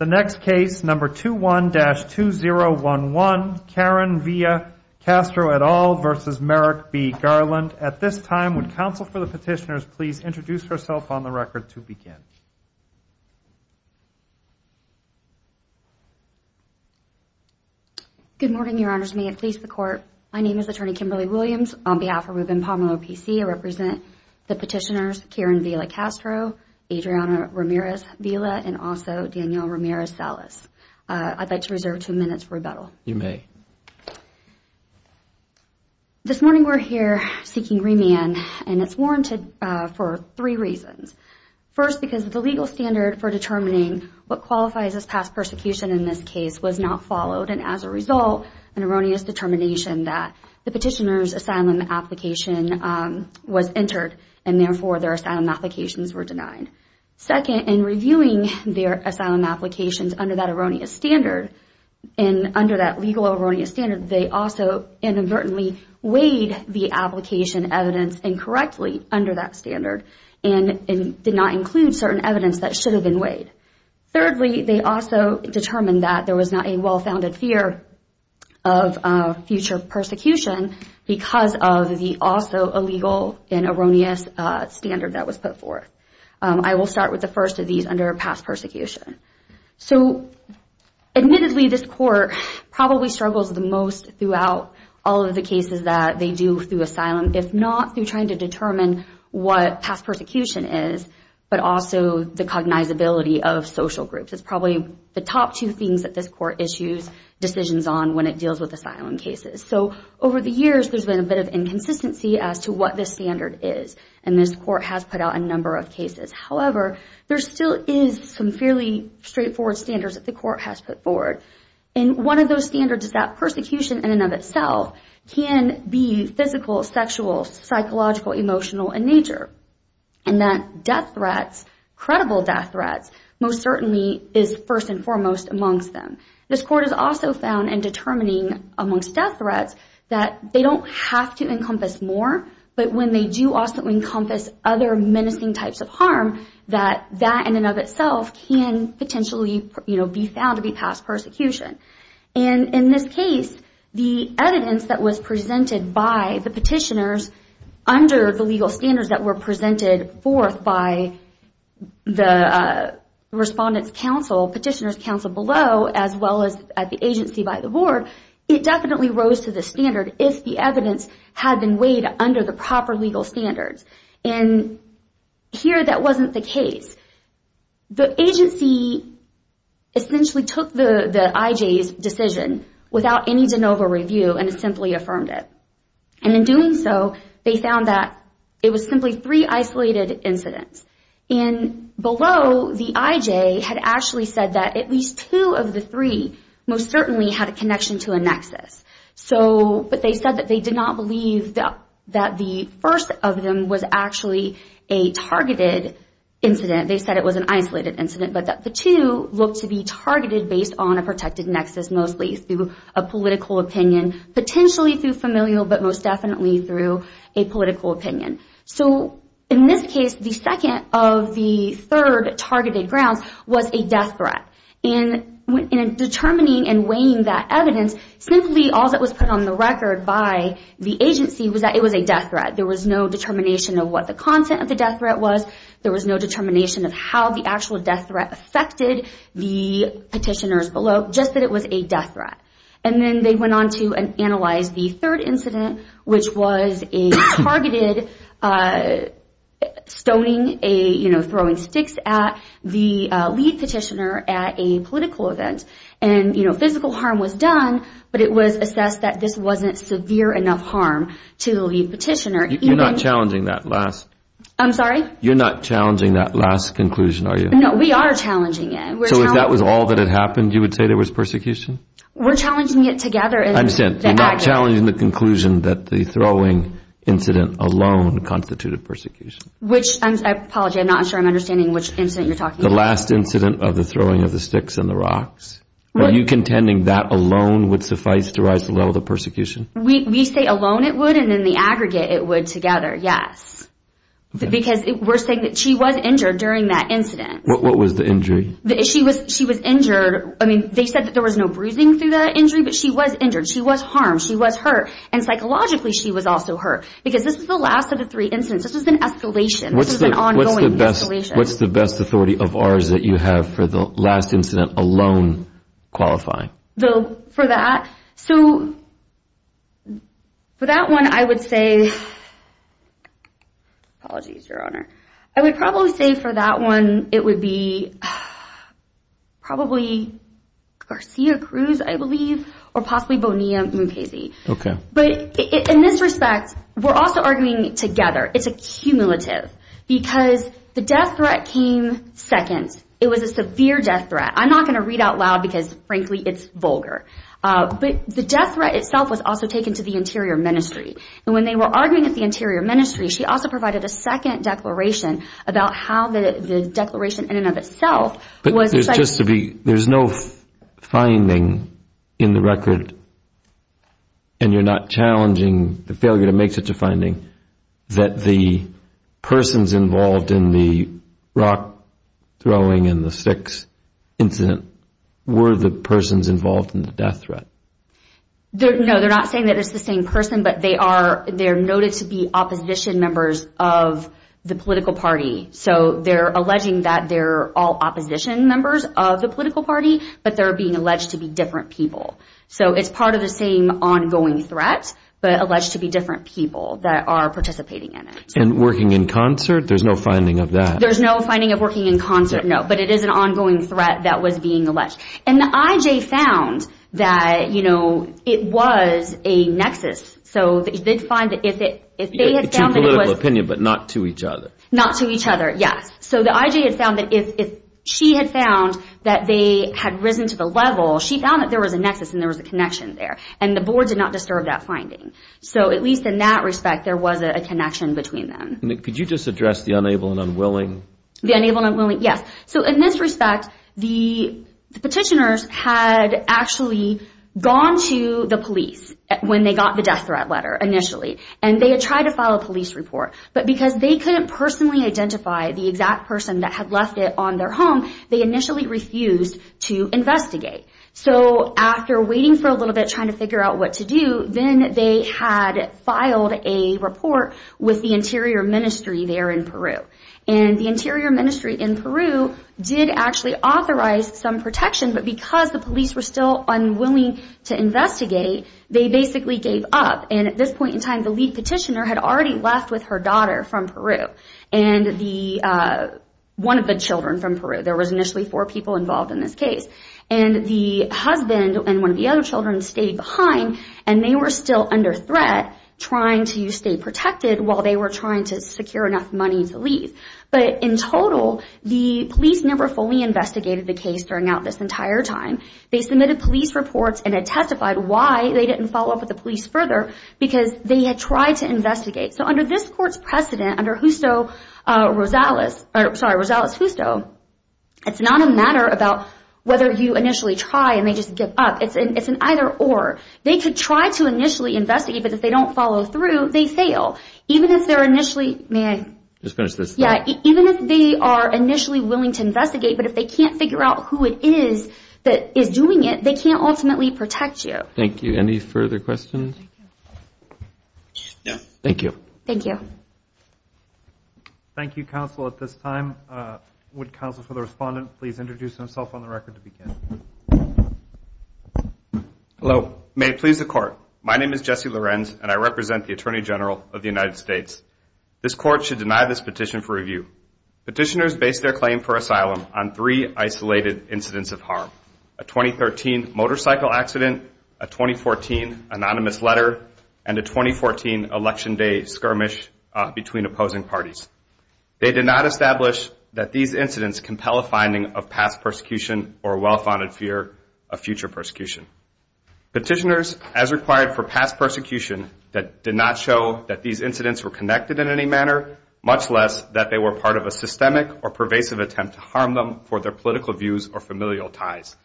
21-2011 Karen Villa-Castro v. Merrick B. Garland My name is Attorney Kimberly Williams. On behalf of Rubin-Pomelo PC, I represent the Daniel Ramirez-Salas. I'd like to reserve two minutes for rebuttal. You may. This morning we're here seeking remand and it's warranted for three reasons. First, because the legal standard for determining what qualifies as past persecution in this case was not followed and as a result, an erroneous determination that the petitioner's asylum application was under that erroneous standard and under that legal erroneous standard, they also inadvertently weighed the application evidence incorrectly under that standard and did not include certain evidence that should have been weighed. Thirdly, they also determined that there was not a well-founded fear of future persecution because of the also illegal and erroneous standard that was put forth. I will start with the first of these under past persecution. So admittedly, this Court probably struggles the most throughout all of the cases that they do through asylum, if not through trying to determine what past persecution is, but also the cognizability of social groups. It's probably the top two things that this Court issues decisions on when it deals with asylum cases. So over the years, there's been a bit of inconsistency as to what this standard is, and this Court has put out a number of cases. However, there still is some fairly straightforward standards that the Court has put forward, and one of those standards is that persecution in and of itself can be physical, sexual, psychological, emotional in nature, and that death threats, credible death threats most certainly is first and foremost amongst them. This Court has also found in determining amongst death threats that they don't have to encompass more, but when they do also encompass other menacing types of harm, that that in and of itself can potentially be found to be past persecution. And in this case, the evidence that was presented by the petitioners under the legal standards that were presented forth by the Respondent's Council, Petitioner's Board, it definitely rose to the standard if the evidence had been weighed under the proper legal standards. And here, that wasn't the case. The agency essentially took the IJ's decision without any de novo review and simply affirmed it. And in doing so, they found that it was simply three isolated incidents. And below, the IJ had actually said that at least two of the three most certainly had a connection to a nexus. But they said that they did not believe that the first of them was actually a targeted incident. They said it was an isolated incident, but that the two looked to be targeted based on a protected nexus mostly through a political opinion, potentially through familial, but most definitely through a political opinion. So in this case, the second of the third targeted grounds was a death threat. In determining and weighing that evidence, simply all that was put on the record by the agency was that it was a death threat. There was no determination of what the content of the death threat was. There was no determination of how the actual death threat affected the petitioners below, just that it was a death threat. And then they went on to analyze the third incident, which was a targeted stoning, throwing sticks at the lead petitioner at a political event. And physical harm was done, but it was assessed that this wasn't severe enough harm to the lead petitioner. You're not challenging that last conclusion, are you? No, we are challenging it. So if that was all that had happened, you would say there was persecution? We're challenging it together. I understand. You're not challenging the conclusion that the throwing incident alone constituted persecution. Which, I apologize, I'm not sure I'm understanding which incident you're talking about. The last incident of the throwing of the sticks and the rocks. Are you contending that alone would suffice to rise to the level of persecution? We say alone it would, and in the aggregate it would together, yes. Because we're saying that she was injured during that incident. What was the injury? She was injured. I mean, they said that there was no bruising through the injury, but she was injured. She was harmed. She was hurt. And psychologically, she was also hurt. Because this is the last of the three incidents. This is an escalation. This is an ongoing escalation. What's the best authority of ours that you have for the last incident alone qualifying? For that? So, for that one, I would say, apologies, Your Honor, I would probably say for that one, it would be probably Garcia Cruz, I believe, or possibly Bonilla Mukasey. Okay. But in this respect, we're also arguing together. It's a cumulative. Because the death threat came second. It was a severe death threat. I'm not going to read out loud because, frankly, it's vulgar. But the death threat itself was also taken to the Interior Ministry. And when they were arguing at the Interior Ministry, she also provided a second declaration about how the declaration in and of itself was... Just to be... There's no finding in the record, and you're not challenging the failure to make such a finding, that the persons involved in the rock throwing and the sticks incident were the persons involved in the death threat. No, they're not saying that it's the same person, but they are noted to be opposition members of the political party, but they're being alleged to be different people. So, it's part of the same ongoing threat, but alleged to be different people that are participating in it. And working in concert? There's no finding of that? There's no finding of working in concert, no. But it is an ongoing threat that was being alleged. And the IJ found that it was a nexus. So, they did find that if they had found that it was... It's your political opinion, but not to each other. Not to each other, yes. So, the IJ had found that if she had found that they had risen to the level, she found that there was a nexus and there was a connection there. And the board did not disturb that finding. So, at least in that respect, there was a connection between them. Nick, could you just address the unable and unwilling? The unable and unwilling, yes. So, in this respect, the petitioners had actually gone to the police when they got the death threat letter, initially. And they had tried to file a police report. But because they couldn't personally identify the exact person that had left it on their home, they initially refused to investigate. So, after waiting for a little bit, trying to figure out what to do, then they had filed a report with the Interior Ministry there in Peru. And the Interior Ministry in Peru did actually authorize some protection. But because the police were still unwilling to investigate, they basically gave up. And at this point in time, the lead petitioner had already left with her daughter from Peru and one of the children from Peru. There were initially four people involved in this case. And the husband and one of the other children stayed behind. And they were still under threat, trying to stay protected while they were trying to secure enough money to leave. But in total, the police never fully investigated the case during this entire time. They submitted police reports and had testified why they didn't follow up with the police further because they had tried to investigate. So, under this court's precedent, under Justo Rosales, it's not a matter about whether you initially try and they just give up. It's an either or. They could try to initially investigate, but if they don't follow through, they fail. Even if they're initially willing to investigate, but if they can't figure out who it is that is doing it, they can't ultimately protect you. Thank you. Any further questions? No. Thank you. Thank you. Thank you, counsel, at this time. Would counsel for the respondent please introduce himself on the record to begin? Hello. May it please the court, my name is Jesse Lorenz and I represent the Attorney General of the United States. This court should deny this petition for review. Petitioners base their claim for asylum on three isolated incidents of harm. A 2013 motorcycle accident, a 2014 anonymous letter, and a 2014 election day skirmish between opposing parties. They did not establish that these incidents compel a finding of past persecution or a well-founded fear of future persecution. Petitioners, as required for past persecution, did not show that these incidents were connected in any manner, much less that they were part of a systemic or pervasive attempt to harm them for their political views or familial ties.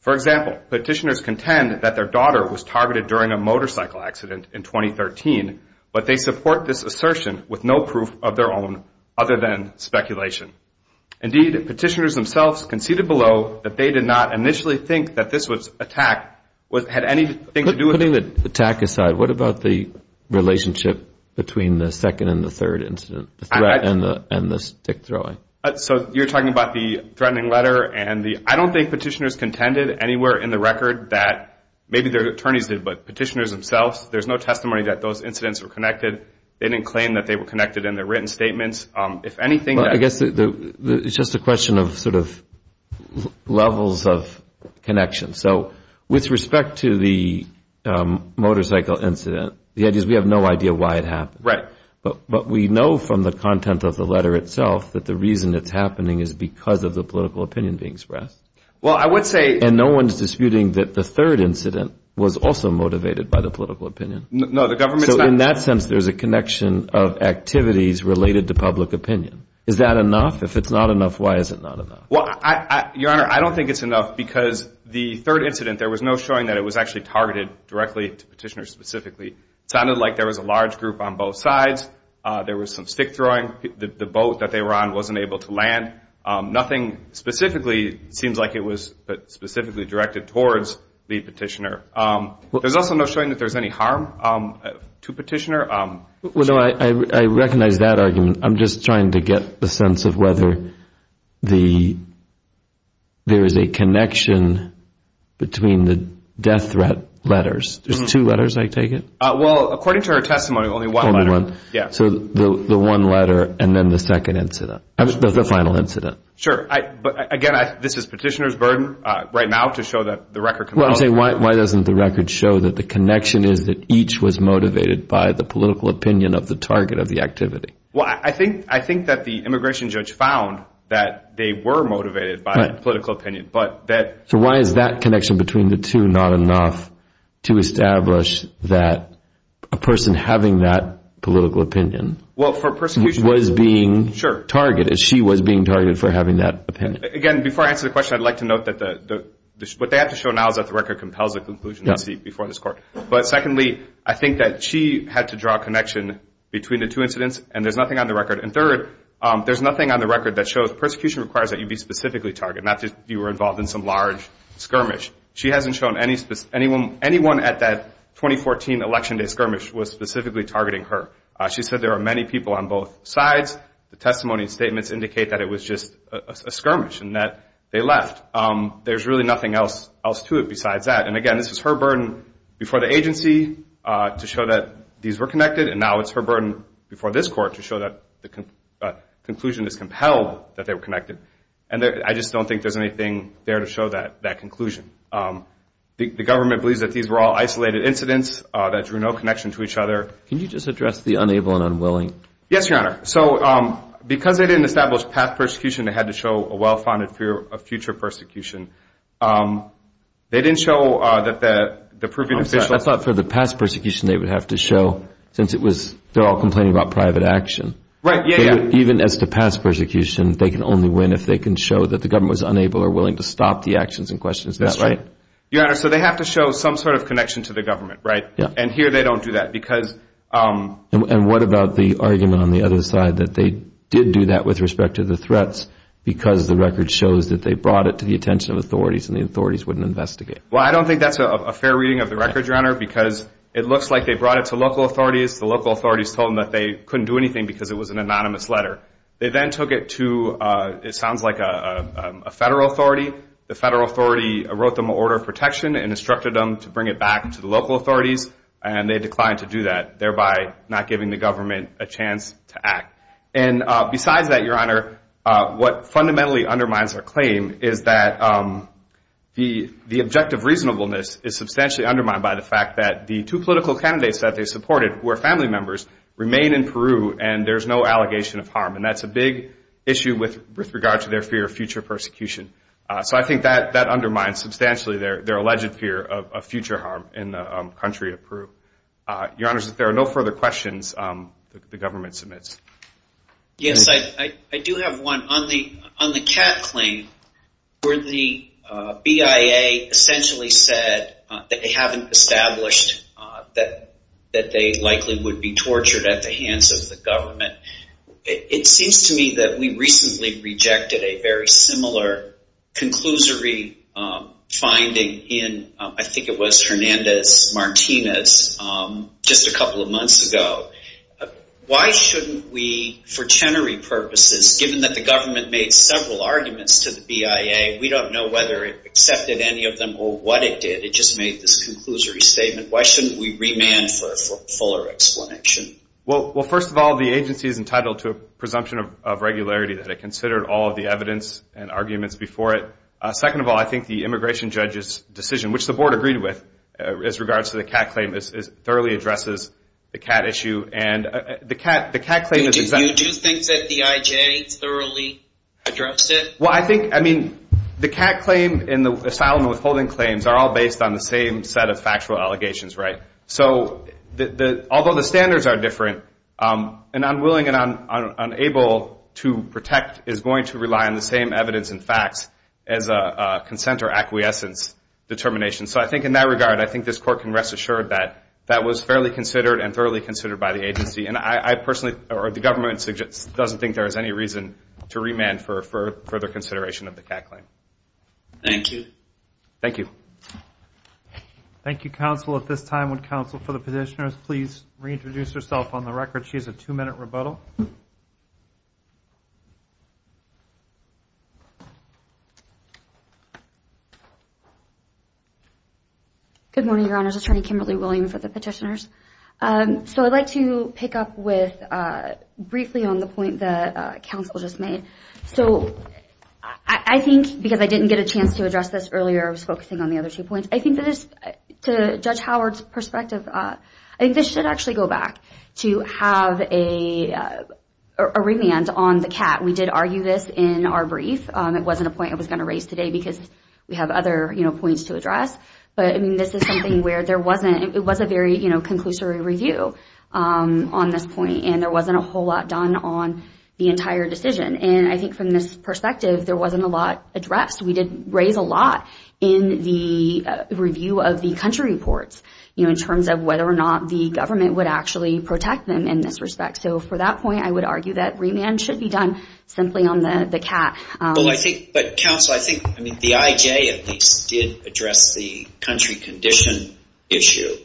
For example, petitioners contend that their daughter was targeted during a motorcycle accident in 2013, but they support this assertion with no proof of their own other than speculation. Indeed, petitioners themselves conceded below that they did not initially think that this attack had anything to do with Putting the attack aside, what about the relationship between the second and the third incident, the threat and the stick throwing? So you're talking about the threatening letter, and I don't think petitioners contended anywhere in the record that maybe their attorneys did, but petitioners themselves, there's no testimony that those incidents were connected. They didn't claim that they were connected in their written statements. I guess it's just a question of levels of connection. So with respect to the motorcycle incident, the idea is we have no idea why it happened. Right. But we know from the content of the letter itself that the reason it's happening is because of the political opinion being expressed. Well, I would say And no one's disputing that the third incident was also motivated by the political opinion. No, the government's not So in that sense, there's a connection of activities related to public opinion. Is that enough? If it's not enough, why is it not enough? Well, Your Honor, I don't think it's enough because the third incident, there was no showing that it was actually targeted directly to petitioners specifically. It sounded like there was a large group on both sides. There was some stick throwing. The boat that they were on wasn't able to land. Nothing specifically seems like it was specifically directed towards the petitioner. There's also no showing that there's any harm to petitioner. Well, no, I recognize that argument. I'm just trying to get the sense of whether there is a connection between the death threat letters. There's two letters, I take it? Well, according to our testimony, only one letter. Only one? Yeah. So the one letter and then the second incident, the final incident. Sure. But again, this is petitioner's burden right now to show that the record can be held. Well, I'm saying why doesn't the record show that the connection is that each was motivated by the political opinion of the target of the activity? Well, I think that the immigration judge found that they were motivated by political opinion, but that So why is that connection between the two not enough to establish that a person having that political opinion was being targeted, she was being targeted for having that opinion? Again, before I answer the question, I'd like to note that what they have to show now is that the record compels a conclusion before this court. But secondly, I think that she had to draw a connection between the two incidents and there's nothing on the record. And third, there's nothing on the record that shows persecution requires that you be specifically targeted, not that you were involved in some large skirmish. She hasn't shown anyone at that 2014 Election Day skirmish was specifically targeting her. She said there are many people on both sides. The testimony and statements indicate that it was just a skirmish and that they left. There's really nothing else to it besides that. And again, this is her burden before the agency to show that these were connected, and now it's her burden before this court to show that the conclusion is compelled that they were connected. And I just don't think there's anything there to show that conclusion. The government believes that these were all isolated incidents that drew no connection to each other. Can you just address the unable and unwilling? Yes, Your Honor. So because they didn't establish past persecution, they had to show a well-founded fear of future persecution. They didn't show that the proven official... I thought for the past persecution they would have to show, since it was they're all complaining about private action. Right. Even as to past persecution, they can only win if they can show that the government was unable or willing to stop the actions in question. That's right. Your Honor, so they have to show some sort of connection to the government, right? Yeah. And here they don't do that because... And what about the argument on the other side that they did do that with respect to the threats because the record shows that they brought it to the attention of authorities and the authorities wouldn't investigate? Well, I don't think that's a fair reading of the record, Your Honor, because it looks like they brought it to local authorities. The local authorities told them that they couldn't do anything because it was an anonymous letter. They then took it to, it sounds like, a federal authority. The federal authority wrote them an order of protection and instructed them to bring it back to the local authorities, and they declined to do that, thereby not giving the government a chance to act. And besides that, Your Honor, what fundamentally undermines their claim is that the objective reasonableness is substantially undermined by the fact that the two political candidates that they supported, who are family members, remain in Peru and there's no allegation of harm. And that's a big issue with regard to their fear of future persecution. So I think that undermines substantially their alleged fear of future harm in the country of Peru. Your Honor, if there are no further questions, the government submits. Yes, I do have one. On the Cat claim, where the BIA essentially said that they haven't established that they likely would be tortured at the hands of the government, it seems to me that we recently rejected a very similar conclusory finding in, I think it was Hernandez-Martinez just a couple of months ago. Why shouldn't we, for tenery purposes, given that the government made several arguments to the BIA, we don't know whether it accepted any of them or what it did. It just made this conclusory statement. Why shouldn't we remand for a fuller explanation? Well, first of all, the agency is entitled to a presumption of regularity that it considered all of the evidence and arguments before it. Second of all, I think the immigration judge's decision, which the board agreed with as regards to the Cat claim, thoroughly addresses the Cat issue. Do you think that the IJ thoroughly addressed it? Well, I think, I mean, the Cat claim and the asylum withholding claims are all based on the same set of factual allegations, right? So although the standards are different, an unwilling and unable to protect is going to rely on the same evidence and facts as a consent or acquiescence determination. So I think in that regard, I think this court can rest assured that that was fairly considered and thoroughly considered by the agency. And I personally, or the government, doesn't think there is any reason to remand for further consideration of the Cat claim. Thank you. Thank you. Thank you, counsel. At this time, would counsel for the petitioners please reintroduce herself on the record? She has a two-minute rebuttal. Good morning, Your Honors. Attorney Kimberly William for the petitioners. So I'd like to pick up briefly on the point that counsel just made. So I think, because I didn't get a chance to address this earlier, I was focusing on the other two points. I think that to Judge Howard's perspective, I think this should actually go back to have a remand on the Cat. We did argue this in our brief. It wasn't a point I was going to raise today because we have other points to address. But, I mean, this is something where there wasn't, it was a very, you know, conclusory review on this point. And there wasn't a whole lot done on the entire decision. And I think from this perspective, there wasn't a lot addressed. We did raise a lot in the review of the country reports, you know, in terms of whether or not the government would actually protect them in this respect. So for that point, I would argue that remand should be done simply on the Cat. Well, I think, but counsel, I think, I mean, the IJ at least did address the country condition issue.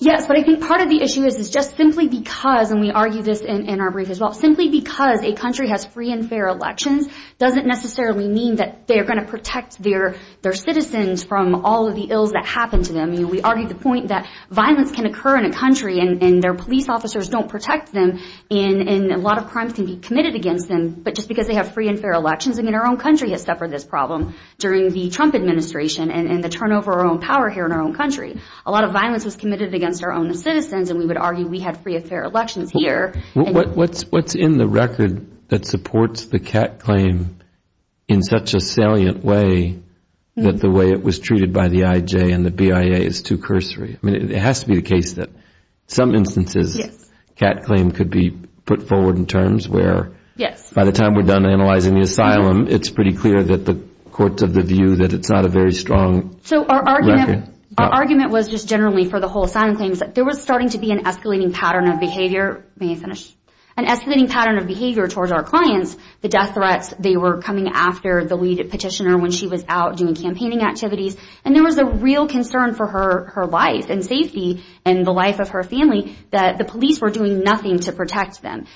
Yes, but I think part of the issue is just simply because, and we argued this in our brief as well, simply because a country has free and fair elections doesn't necessarily mean that they're going to protect their citizens from all of the ills that happen to them. We argued the point that violence can occur in a country and their police officers don't protect them and a lot of crimes can be committed against them, but just because they have free and fair elections, I mean, our own country has suffered this problem during the Trump administration and the turnover of our own power here in our own country. A lot of violence was committed against our own citizens and we would argue we had free and fair elections here. What's in the record that supports the Cat claim in such a salient way that the way it was treated by the IJ and the BIA is too cursory? I mean, it has to be the case that some instances Cat claim could be put forward in terms where by the time we're done analyzing the asylum, it's pretty clear that the courts of the view that it's not a very strong record. So our argument was just generally for the whole asylum claims that there was starting to be an escalating pattern of behavior towards our clients, the death threats, they were coming after the lead petitioner when she was out doing campaigning activities, and there was a real concern for her life and safety and the life of her family that the police were doing nothing to protect them.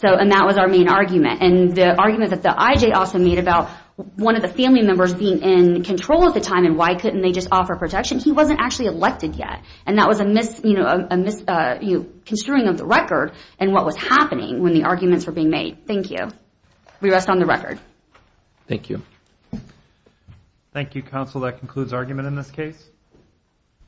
And that was our main argument. And the argument that the IJ also made about one of the family members being in control at the time and why couldn't they just offer protection, he wasn't actually elected yet. And that was a misconstruing of the record and what was happening when the arguments were being made. Thank you. We rest on the record. Thank you. Thank you, counsel. That concludes argument in this case.